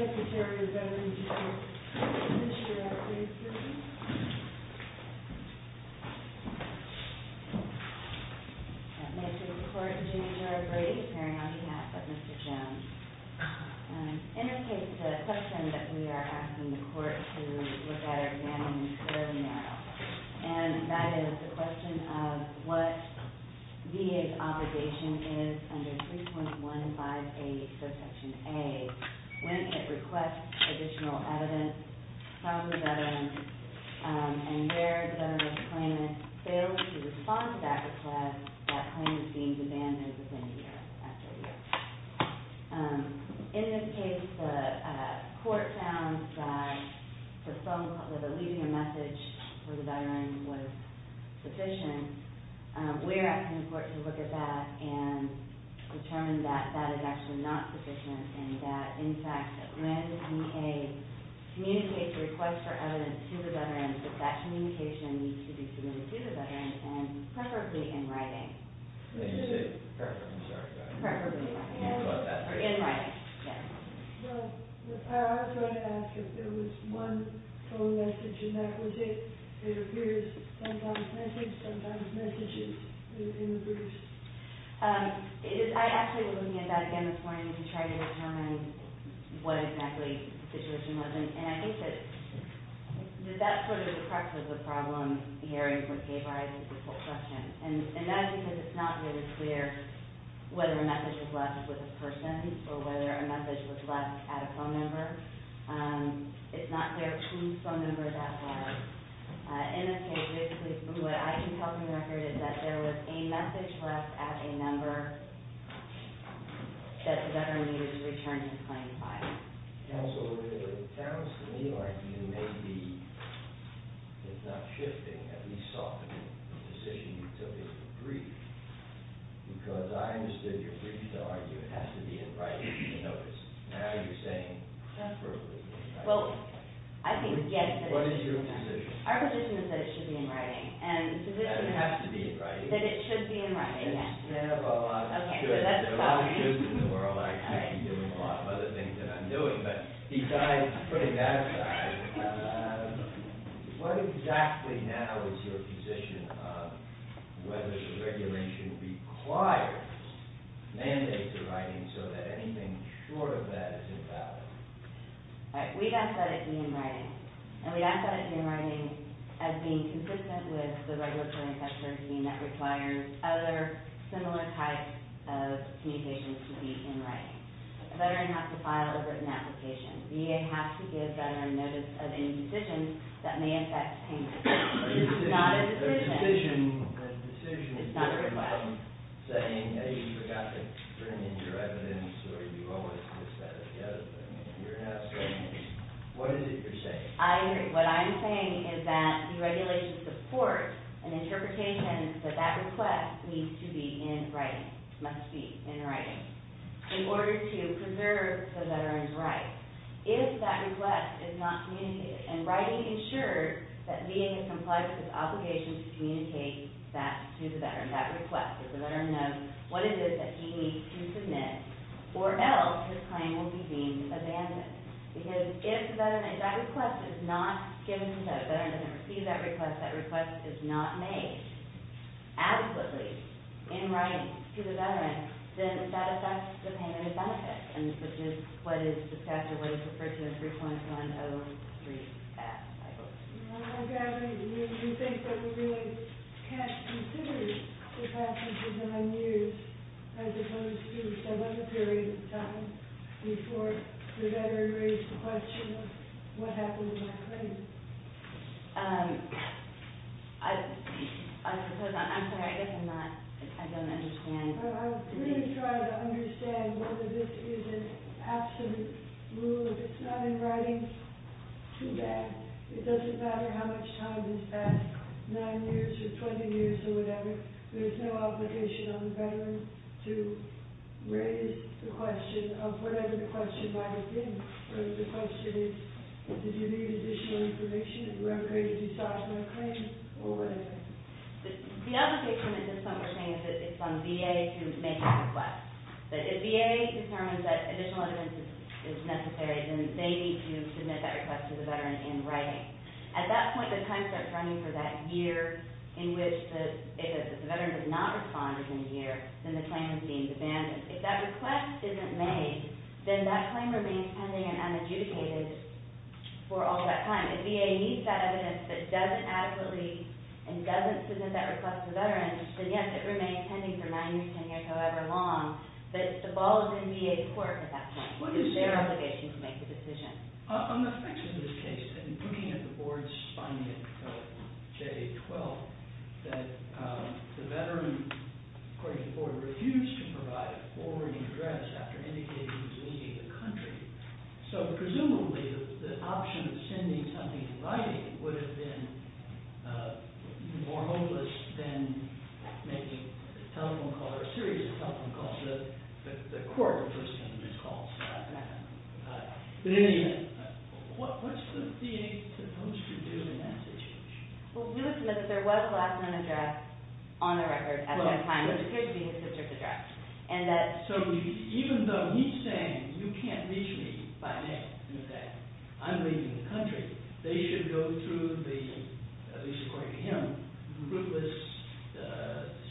This is a recording of the meeting of the Board of Trustees of the University of California, San Diego, California. This is a recording of the meeting of the Board of Trustees of the University of California, San Diego, California. Secretary of Veterans Affairs, Mr. Atkinson. I'd like to report to Jimmy J. Brady, pairing on behalf of Mr. Jones. In this case, the question that we are asking the court to look at our examiners really narrow. And that is the question of what VA's obligation is under 3.158, subsection A, when it requests additional evidence from the veteran and their veteran's claimant fails to respond to that request, that claimant being demanded within a year, after a year. In this case, the court found that the leading message for the veteran was sufficient. We are asking the court to look at that and determine that that is actually not sufficient and that, in fact, that when VA communicates a request for evidence to the veteran, that that communication needs to be submitted to the veteran, preferably in writing. I was going to ask if there was one co-message and that was it. It appears sometimes messages, sometimes messages in the briefs. I actually was looking at that again this morning to try to determine what exactly the situation was. And I think that that's sort of the crux of the problem here in this case. And that's because it's not really clear whether a message was left with the person or whether a message was left at a phone number. It's not clear whose phone number that was. In this case, basically, what I can tell from the record is that there was a message left at a number that the veteran needed to return his claim filed. Counsel, it sounds to me like you may be, if not shifting, at least softening the decision you took in the brief. Because I understood your brief to argue it has to be in writing, in the notice. What is your position? Our position is that it should be in writing. That it has to be in writing. That it should be in writing. There are a lot of shoulds. There are a lot of shoulds in the world. I could be doing a lot of other things that I'm doing, but besides putting that aside, what exactly now is your position of whether the regulation requires mandates in writing so that anything short of that is invalid? We've asked that it be in writing. And we've asked that it be in writing as being consistent with the regulatory structure being that requires other similar types of communications to be in writing. A veteran has to file a written application. VA has to give veteran notice of any decisions that may affect payment. It's not a decision. It's not written by them. I agree. What I'm saying is that the regulation supports an interpretation that that request needs to be in writing. It must be in writing. In order to preserve the veteran's rights. If that request is not communicated. In writing, it ensures that VA has complied with its obligation to communicate that to the veteran. That request. If the veteran knows what it is that he needs to submit or else his claim will be deemed abandoned. Because if that request is not given to that veteran, if that veteran doesn't receive that request, that request is not made adequately in writing to the veteran, then that affects the payment of benefits. And this is just what the statute would have referred to as 3.103. You think that we really can't consider the fact that this is unused as opposed to some other period of time before the veteran raised the question of what happened to my claim? I'm sorry. I guess I'm not. I don't understand. I'm really trying to understand whether this is an absolute rule. If it's not in writing, too bad. It doesn't matter how much time has passed. Nine years or 20 years or whatever. There's no obligation on the veteran to raise the question of whatever the question might have been. Whether the question is, did you need additional information? Did you ever create a dishonorable claim? Or whatever. The other picture, and this is what we're saying, is that it's on VA to make a request. But if VA determines that additional evidence is necessary, then they need to submit that request to the veteran in writing. At that point, the time stamp is running for that year in which if the veteran does not respond within a year, then the claim is deemed abandoned. If that request isn't made, then that claim remains pending and unadjudicated for all that time. If VA needs that evidence but doesn't adequately and doesn't submit that request to veterans, then, yes, it remains pending for nine years, 10 years, however long. But the ball is in VA's court at that point. It's their obligation to make the decision. On the basis of this case, and looking at the board's finding of J-12, that the veteran, according to the board, refused to provide a forwarding address after indicating he was leaving the country. So presumably, the option of sending something in writing would have been more hopeless than making a telephone call or a series of telephone calls. The court would have listened to these calls. But in the end, what's the VA supposed to do in that situation? Well, we would submit that there was a last-minute address on the record at that time, which appears to be in the subject of the draft. So even though he's saying, you can't reach me by mail and say, I'm leaving the country, they should go through the, at least according to him, ruthless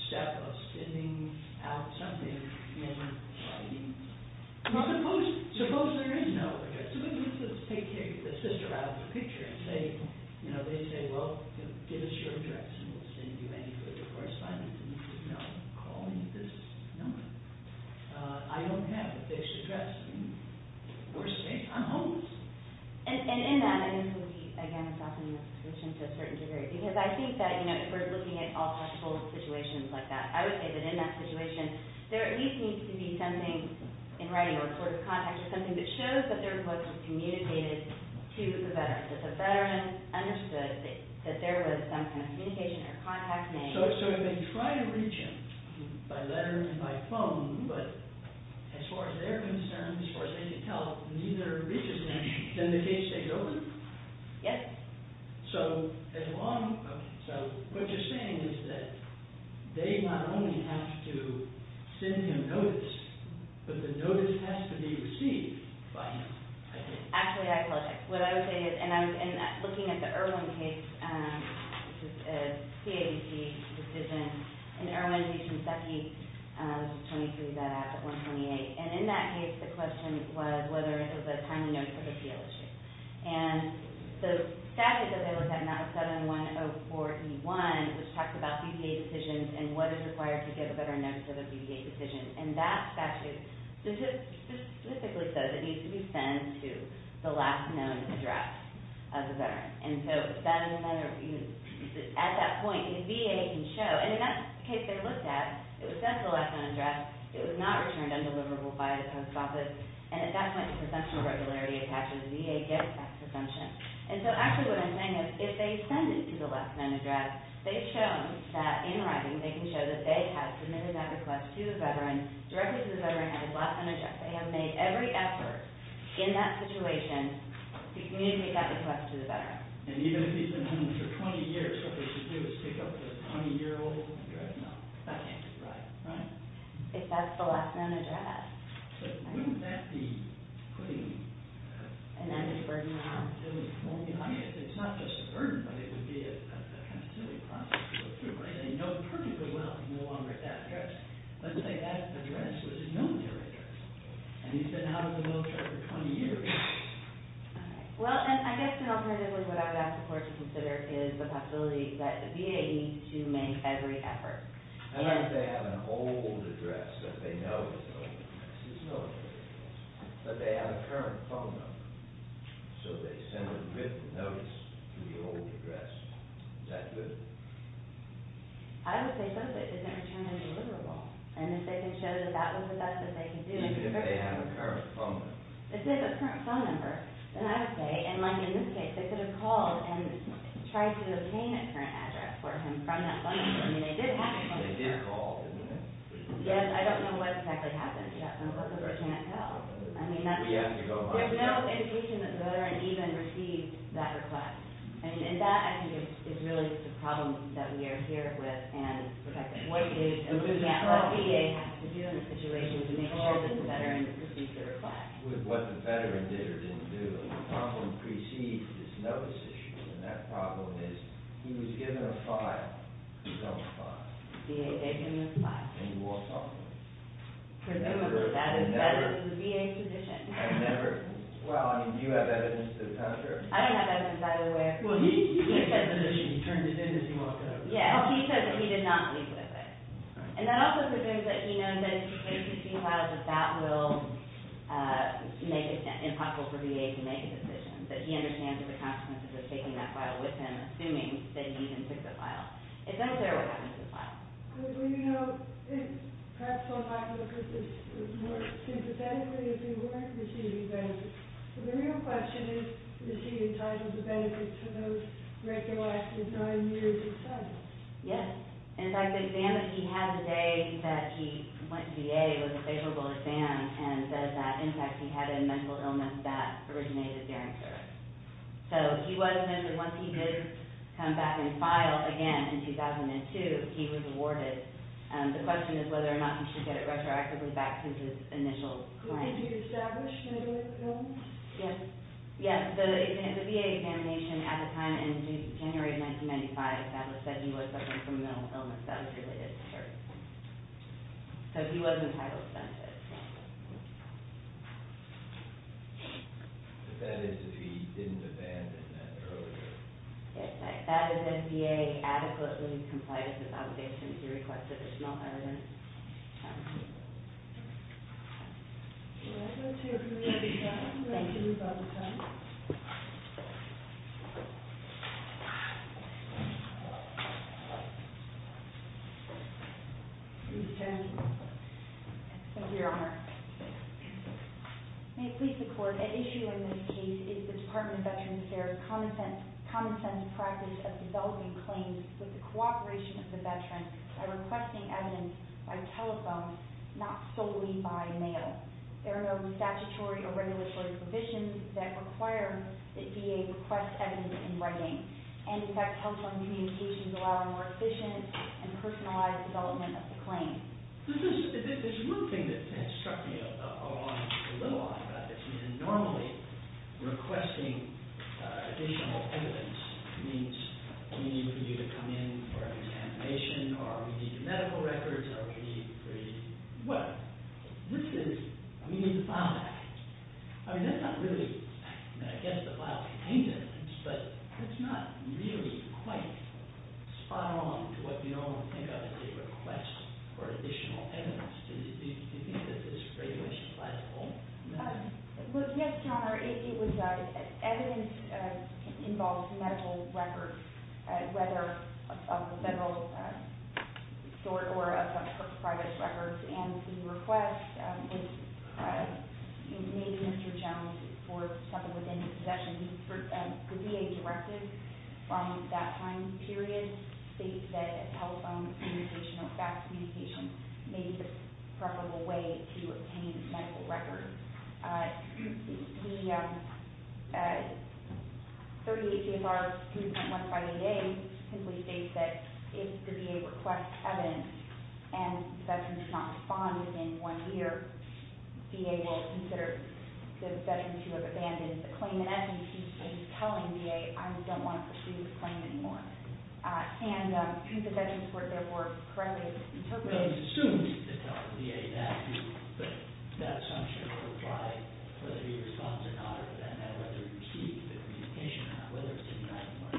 step of sending out something in writing. Suppose there is no address. Suppose they take the sister out of the picture and say, you know, they say, well, give us your address and we'll send you anything. Of course, I need to know. Call me at this number. I don't have a fixed address. We're safe. I'm homeless. And in that, I think we, again, soften the situation to a certain degree. Because I think that, you know, if we're looking at all possible situations like that, I would say that in that situation, there at least needs to be something in writing or a sort of contact or something that shows that there was something communicated to the veteran. That the veteran understood that there was some kind of communication or contact made. So if they try to reach him by letter and by phone, but as far as they're concerned, as far as they can tell, neither reaches him, then the case stays open? Yes. So as long, so what you're saying is that they not only have to send him notice, but the notice has to be received by him. Actually, I believe it. What I would say is, and I was looking at the Irwin case, which is a CABP decision, and Irwin v. Kinseki, which is 23. That act is 128. And in that case, the question was whether it was a timely notice or a seal issue. And the statute that they looked at, and that was 7104E1, which talks about BVA decisions and what is required to get a better notice of a BVA decision. And that statute specifically says it needs to be sent to the last known address of the veteran. And so at that point, the VA can show. And in that case they looked at, it was sent to the last known address. It was not returned undeliverable by the post office. And at that point, the presumption of regularity is actually the VA gets that presumption. And so actually what I'm saying is, if they send it to the last known address, they've shown that in writing, they can show that they have submitted that request to the veteran directly to the veteran at his last known address. They have made every effort in that situation to communicate that request to the veteran. And even if he's been home for 20 years, what they should do is pick up the 20-year-old address? No. That can't be right. Right? If that's the last known address. So wouldn't that be putting an added burden on them? It's not just a burden, but it would be a kind of silly process to go through, right? They know perfectly well he's no longer at that address. Let's say that address was his known address. And he's been out of the military for 20 years. Well, and I guess an alternative is what I would ask the court to consider is the possibility that the VA needs to make every effort. I don't know if they have an old address that they know is an old address. There's no old address. But they have a current phone number. So they send a written notice to the old address. Is that good? I would say both ways. It doesn't return a deliverable. And if they can show that that was the best that they can do. Even if they have a current phone number. If they have a current phone number, then I would say, and like in this case, they could have called and tried to obtain a current address for him from that phone number. I mean, they did have a phone number. They did call, didn't they? Yes. I don't know what exactly happened. Yes, and Elizabeth can't tell. We have to go on. There's no indication that the veteran even received that request. And that, I think, is really the problem that we are here with and protecting. What does the VA have to do in this situation to make sure that the veteran received the request? With what the veteran did or didn't do. The problem precedes this notice issue. And that problem is he was given a file. He's on the file. The VA gave him this file. And he walked off with it. Presumably that is the VA's position. Well, do you have evidence to counter? I don't have evidence, either way. Well, he turned it in as he walked out. Yes, he said that he did not leave with it. And that also suggests that he knows that if he takes the file, that that will make it impossible for VA to make a decision. But he understands the consequences of taking that file with him, assuming that he even took the file. It's unclear what happened to the file. Well, you know, perhaps I'll have to look at this more sympathetically, if you weren't receiving benefits. But the real question is, was he entitled to benefits for those regularized for nine years or so? Yes. In fact, the exam that he had the day that he went to VA was a favorable exam and says that, in fact, he had a mental illness that originated during service. So he was mentioned, once he did come back in file again in 2002, he was awarded. The question is whether or not he should get it retroactively back to his initial claim. Could he be established in a mental illness? Yes. Yes, the VA examination at the time, in January of 1995, established that he was suffering from a mental illness that was related to service. So he wasn't entitled to benefits. But that is if he didn't abandon that earlier. Yes. That is if VA adequately complies with obligations to request additional evidence. Please turn. Thank you, Your Honor. May it please the Court, The issue in this case is the Department of Veterans Affairs' common-sense practice of developing claims with the cooperation of the veteran by requesting evidence by telephone, not solely by mail. There are no statutory or regulatory provisions that require that VA request evidence in writing. And, in fact, telephone communications allow a more efficient and personalized development of the claim. There's one thing that struck me a little odd about this. Normally, requesting additional evidence means we need you to come in for an examination or we need your medical records or we need... Well, this is... We need the file back. I mean, that's not really... I mean, I guess the file's contained in it, but it's not really quite spot-on to what we normally think of as a request for additional evidence. Do you think that this very much applies to all? Well, yes, Your Honor. It was... Evidence involves medical records, whether of the federal sort or of private records. And the request was made to Mr. Jones for something within his possession. The VA directive from that time period states that telephone communication or fax communication may be the preferable way to obtain medical records. The 38 CFR 2.158A simply states that if the VA requests evidence and the session is not to bond within one year, VA will consider the session to have abandoned the claim. And as you can see, it's telling VA, I don't want to pursue this claim anymore. And if the sessions were, therefore, correctly interpreted... Well, it assumes that the VA would ask you that assumption or apply whether you respond to it or not, or whether you seek the communication on whether or not it's a bond. I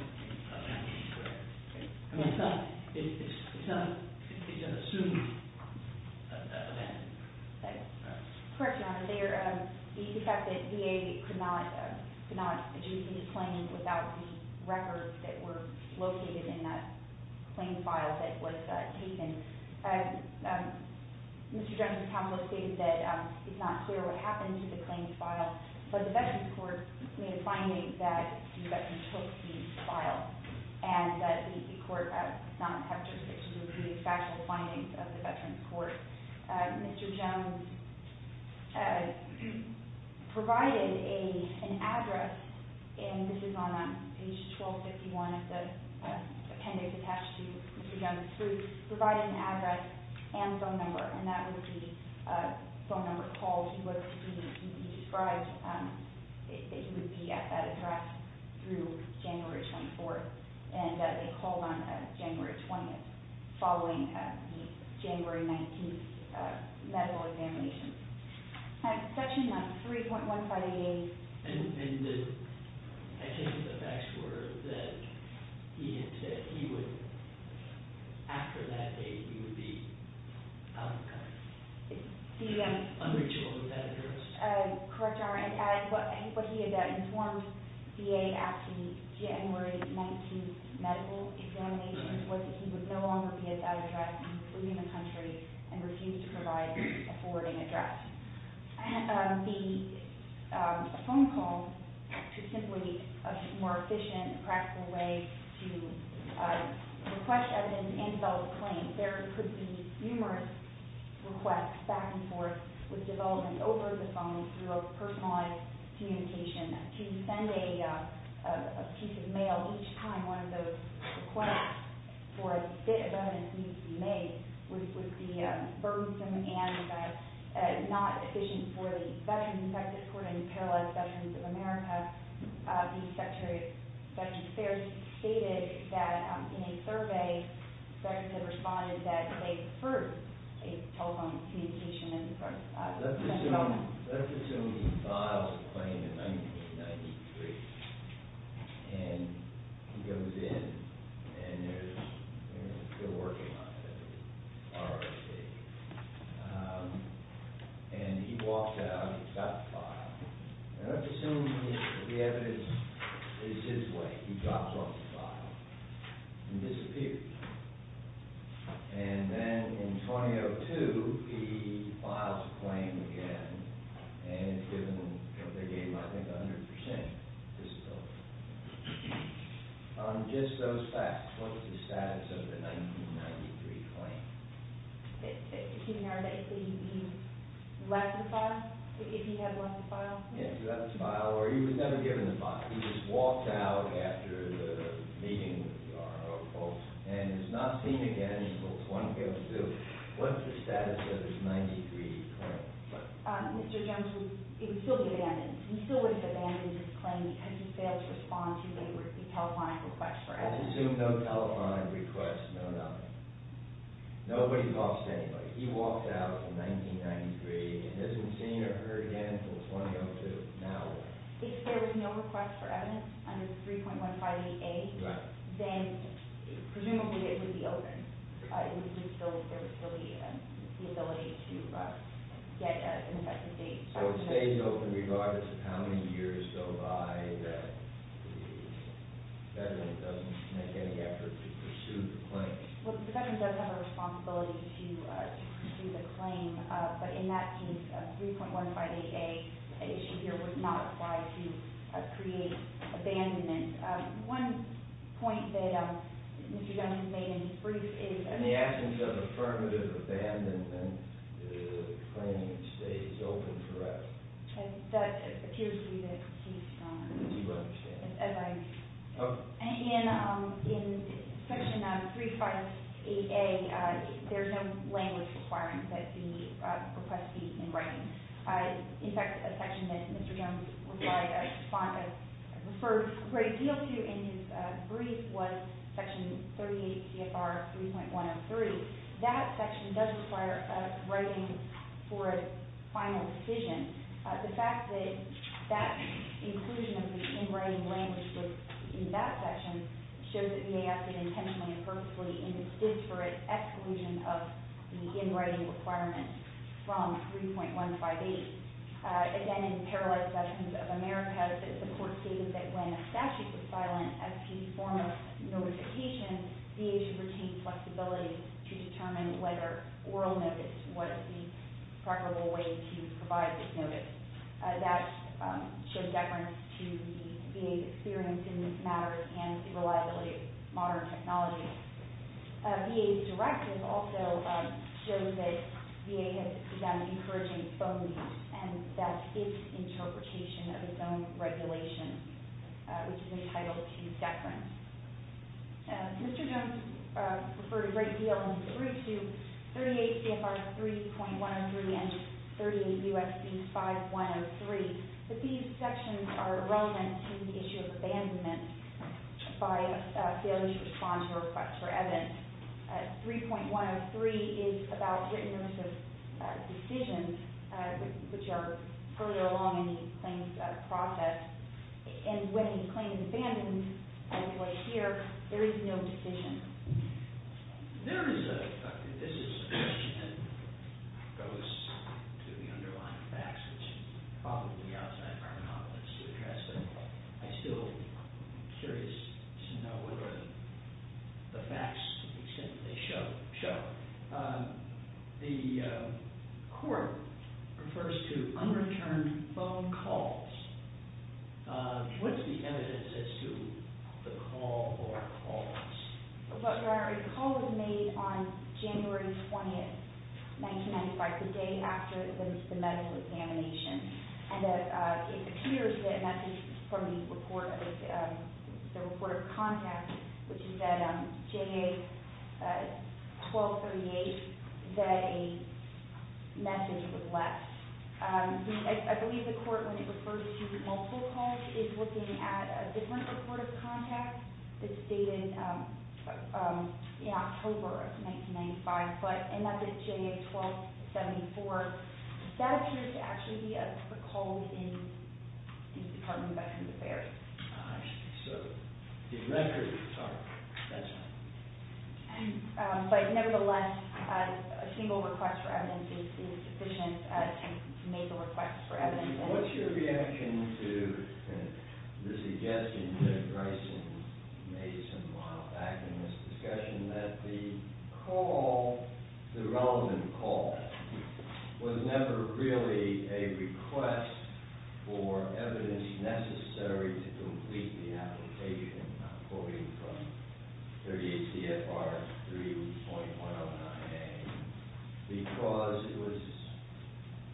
mean, it's not... It can be an assumed abandonment. Correct, Your Honor. There is the effect that VA could not adjudicate the claim without the records that were located in that claim file that was taken. Mr. Jones' household stated that it's not clear what happened to the claim file, but the Veterans Court made a finding that the Veterans took the file and that the court does not have jurisdiction to review the factual findings of the Veterans Court. Mr. Jones provided an address, and this is on page 1251 of the appendix attached to Mr. Jones' suit, provided an address and phone number, and that would be a phone number called. He described that he would be at that address through January 24th and that they called on January 20th following the January 19th medical examination. Section 3.158... Correct, Your Honor. What he had informed VA after the January 19th medical examination was that he would no longer be at that address, including the country, and refused to provide a forwarding address. The phone call is simply a more efficient, practical way to request evidence and develop a claim. There could be numerous requests back and forth with development over the phone through a personalized communication. To send a piece of mail each time one of those requests for a bit of evidence needs to be made would be burdensome and not efficient for the Veterans. In fact, according to Paralyzed Veterans of America, the Secretary of Veterans Affairs stated that in a survey, Veterans had responded that they've heard a telephone communication as part of the process. Let's assume he files a claim in 1993, and he goes in, and there's a bill working on it, an RRCA, and he walks out, he's got the file. Let's assume that the evidence is his way. He drops off the file and disappears. And then in 2002, he files a claim again, and given what they gave him, I think 100 percent, he disappears. On just those facts, what's the status of the 1993 claim? He narrates that he left the file, that he had left the file. Yeah, he left the file, or he was never given the file. He just walked out after the meeting with the RRO folks, and he's not seen again until 2002. What's the status of his 1993 claim? Mr. Jones, it would still be abandoned. He still would have abandoned his claim because he failed to respond to the telephonic request for evidence. Let's assume no telephonic request, no nothing. Nobody talks to anybody. He walks out in 1993 and isn't seen or heard again until 2002. Now what? If there was no request for evidence under 3.158A, then presumably it would be open. It would be still the ability to get an effective date. So it stays open regardless of how many years go by that the federal government doesn't make any effort to pursue the claim. Well, the federal government does have a responsibility to pursue the claim, but in that case, 3.158A, as you hear, would not apply to create abandonment. One point that Mr. Jones has made in his brief is the absence of affirmative abandonment and the claim stays open forever. That appears to be the case, Your Honor. As you understand. As I understand. In Section 358A, there's no language requirement that the request be in writing. In fact, a section that Mr. Jones referred a great deal to in his brief was Section 38 CFR 3.103. That section does require writing for a final decision. The fact that that inclusion of the in-writing language was in that section shows that VA acted intentionally and purposefully in the disparate exclusion of the in-writing requirement from 3.158. Again, in Paralyzed Sessions of America, the court stated that when a statute was silent as a form of notification, VA should retain flexibility to determine whether oral notice was the preferable way to provide this notice. That shows deference to the VA's experience in this matter and the reliability of modern technology. VA's directive also shows that VA has begun encouraging phone use, and that's its interpretation of its own regulation, which is entitled to deference. Mr. Jones referred a great deal in his brief to 38 CFR 3.103 and 38 U.S.C. 5.103, but these sections are irrelevant to the issue of abandonment by a failure to respond to a request for evidence. 3.103 is about written notice of decisions, which are further along in the claims process, and when a claim is abandoned, as we see here, there is no decision. There is a question that goes to the underlying facts, which is probably outside of our monopolies to address, but I'm still curious to know whether the facts, to the extent that they show, show. The court refers to unreturned phone calls. What's the evidence as to the call or calls? Your Honor, a call was made on January 20th, 1995, the day after the medical examination, and it appears that a message from the report of contact, which is that JA 1238, that a message was left. I believe the court, when it refers to multiple calls, is looking at a different report of contact that's dated in October of 1995, and that's at JA 1274. Does that appear to actually be a call in the Department of Veterans Affairs? I'm not sure. The records are expensive. But nevertheless, a single request for evidence is sufficient to make a request for evidence. What's your reaction to the suggestion that Bryson made some time back in this discussion that the call, the relevant call, was never really a request for evidence necessary to complete the application? I'm quoting from 38 CFR 3.109A. Because it was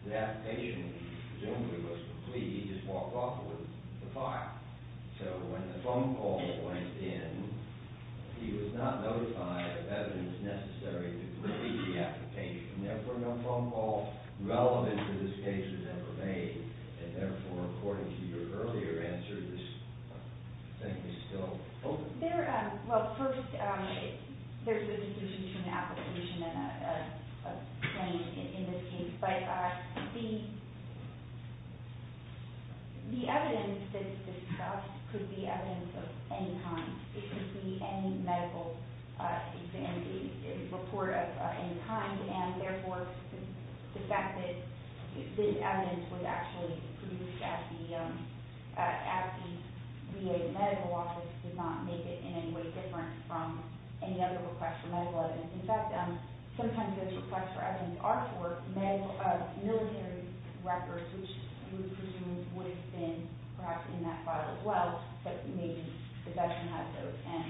the application presumably was complete, he just walked off with the file. So when the phone call went in, he was not notified of evidence necessary to complete the application. Therefore, no phone call relevant to this case was ever made, and therefore, according to your earlier answer, this thing is still open. Well, first, there's a distinction between an application and a claim in this case. But the evidence that's discussed could be evidence of any kind. It could be any medical report of any kind. And therefore, the fact that this evidence was actually produced at the VA medical office does not make it in any way different from any other request for medical evidence. In fact, sometimes those requests for evidence are for military records, which we presume would have been perhaps in that file as well. But maybe the veteran has those, and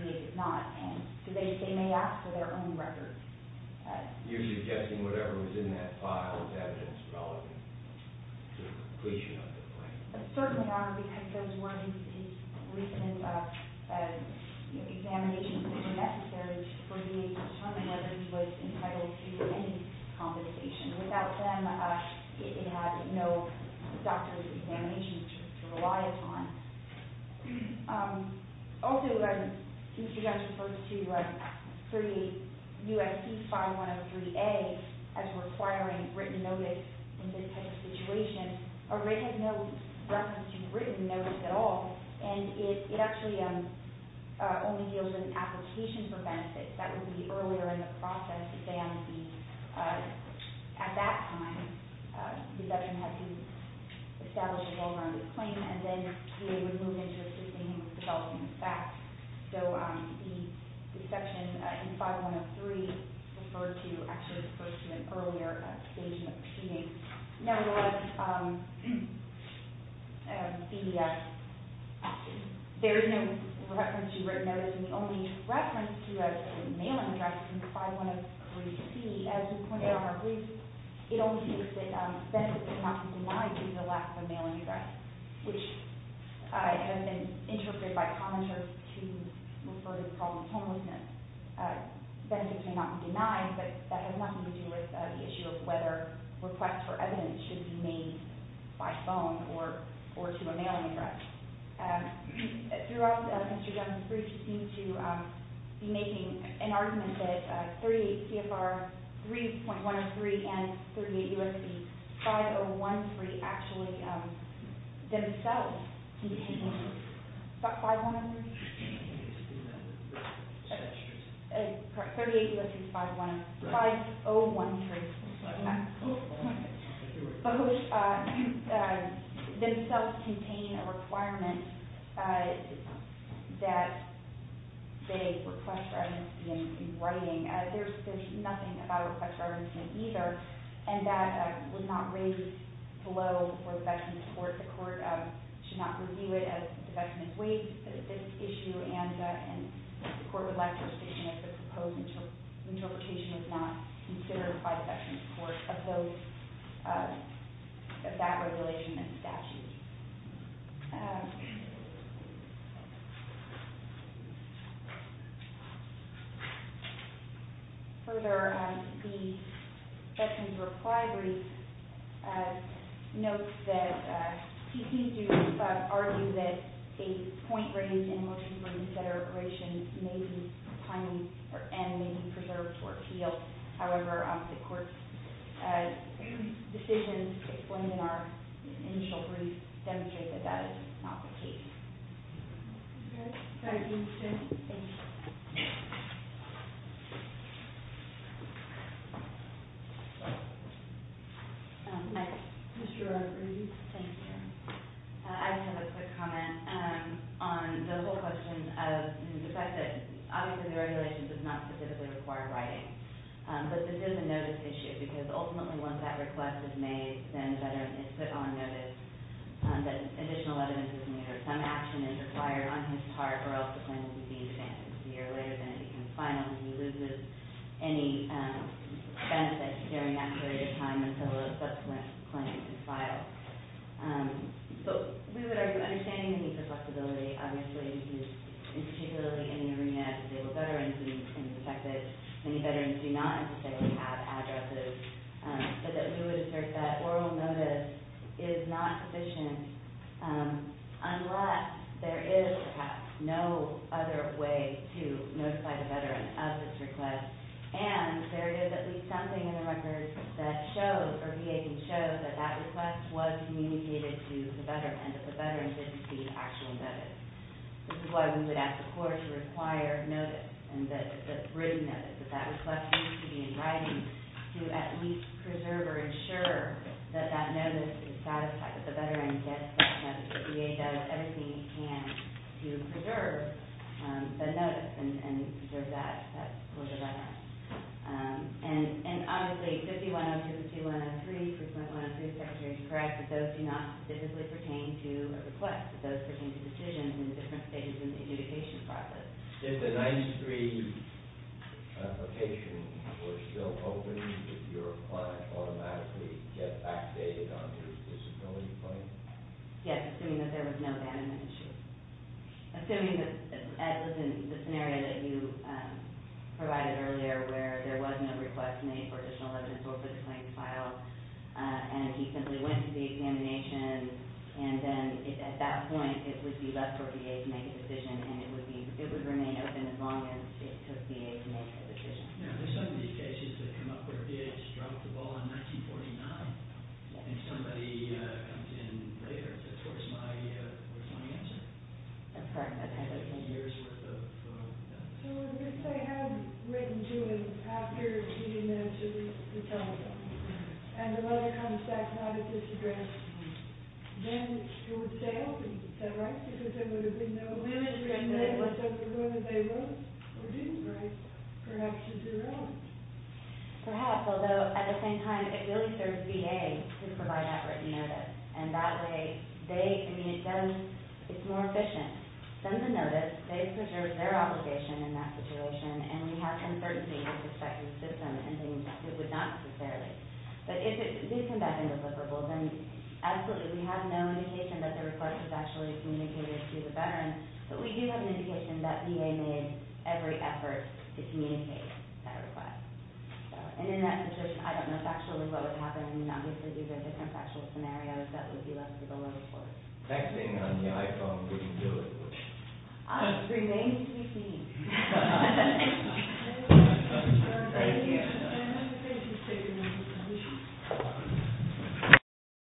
maybe not. And they may ask for their own records. You're suggesting whatever was in that file was evidence relevant to the completion of the claim? Certainly not, because those were his recent examinations that were necessary for VA to determine whether he was entitled to any compensation. Without them, it had no doctor's examinations to rely upon. Also, since you guys referred to 38 U.S.C. 5103A as requiring written notice in this type of situation, it had no reference to written notice at all. And it actually only deals with an application for benefits. That would be earlier in the process. At that time, the veteran had to establish a well-rounded claim, and then VA would move into assisting him with developing the facts. So the section in 5103 actually refers to an earlier stage of the proceeding. Nevertheless, there is no reference to written notice. And the only reference to a mailing address in 5103C, as you pointed out in our brief, it only states that benefits cannot be denied due to the lack of a mailing address, which has been interpreted by commenters to refer to the problem of homelessness. Benefits may not be denied, but that has nothing to do with the issue of whether requests for evidence should be made by phone or to a mailing address. Throughout Mr. Dunn's brief, he seemed to be making an argument that 38 CFR 3.103 and 38 U.S.C. 5013 actually themselves contain 5103? 38 U.S.C. 5013. Both themselves contain a requirement that they request for evidence in writing. There's nothing about a request for evidence in either, and that was not raised below for the veteran's court. The court should not review it as the veteran has waived this issue and the court would like to restrict it if the proposed interpretation is not considered by the veteran's court of that regulation and statute. Further, the veteran's reply brief notes that he seems to argue that a point raised in motion for inciteration may be preserved or appealed. However, the court's decisions explaining our initial brief demonstrate that that is not the case. I just have a quick comment on the whole question of the fact that obviously the regulation does not specifically require writing. But this is a notice issue because ultimately once that request is made, then the veteran is put on notice that additional evidence is made or some action is required on his part or else the claim will be de-examined. A year later, then it becomes final and he loses any benefits during that period of time until a subsequent claim is filed. We would argue understanding the flexibility, obviously, particularly in the arena of disabled veterans and the fact that many veterans do not necessarily have addresses, but that we would assert that oral notice is not sufficient unless there is perhaps no other way to notify the veteran of this request and there is at least something in the record that shows or VA can show that that request was communicated to the veteran and that the veteran didn't receive actual notice. This is why we would ask the court to require notice and the written notice that that request needs to be in writing to at least preserve or ensure that that notice is satisfied, that the veteran gets that notice, that the VA does everything he can to preserve the notice and preserve that for the veteran. And obviously 5102, 5103, 3.103, the Secretary is correct that those do not specifically pertain to a request, but those pertain to decisions in the different stages of the adjudication process. If the 9-3 application were still open, would your client automatically get backdated on his disability claim? Yes, assuming that there was no abandonment issue. Assuming that Ed was in the scenario that you provided earlier where there was no request made for additional evidence or for the claim to file and he simply went to the examination and then at that point it would be left for VA to make a decision and it would remain open as long as it took VA to make a decision. Now, there are some of these cases that came up where VA just dropped the ball in 1949 and somebody comes in later. That's where it's my answer. That's correct. So if they had written to him after he had mentioned the telephone and the letter comes back not at this address, then it would stay open, is that right? Because there would have been no agreement whatsoever whether they wrote or didn't write. Perhaps it's irrelevant. Perhaps, although at the same time it really serves VA to provide that written notice. And that way it's more efficient. Send the notice. They preserve their obligation in that situation and we have some certainty with respect to the system and things it would not necessarily. But if it did come back indeliberable, then absolutely we have no indication that the request was actually communicated to the veteran, but we do have an indication that VA made every effort to communicate that request. And in that situation, I don't know factually what would happen. Obviously these are different factual scenarios. That would be less of a level four. Texting on the iPhone wouldn't do it, would it? Remains to be seen. Thank you. Thank you.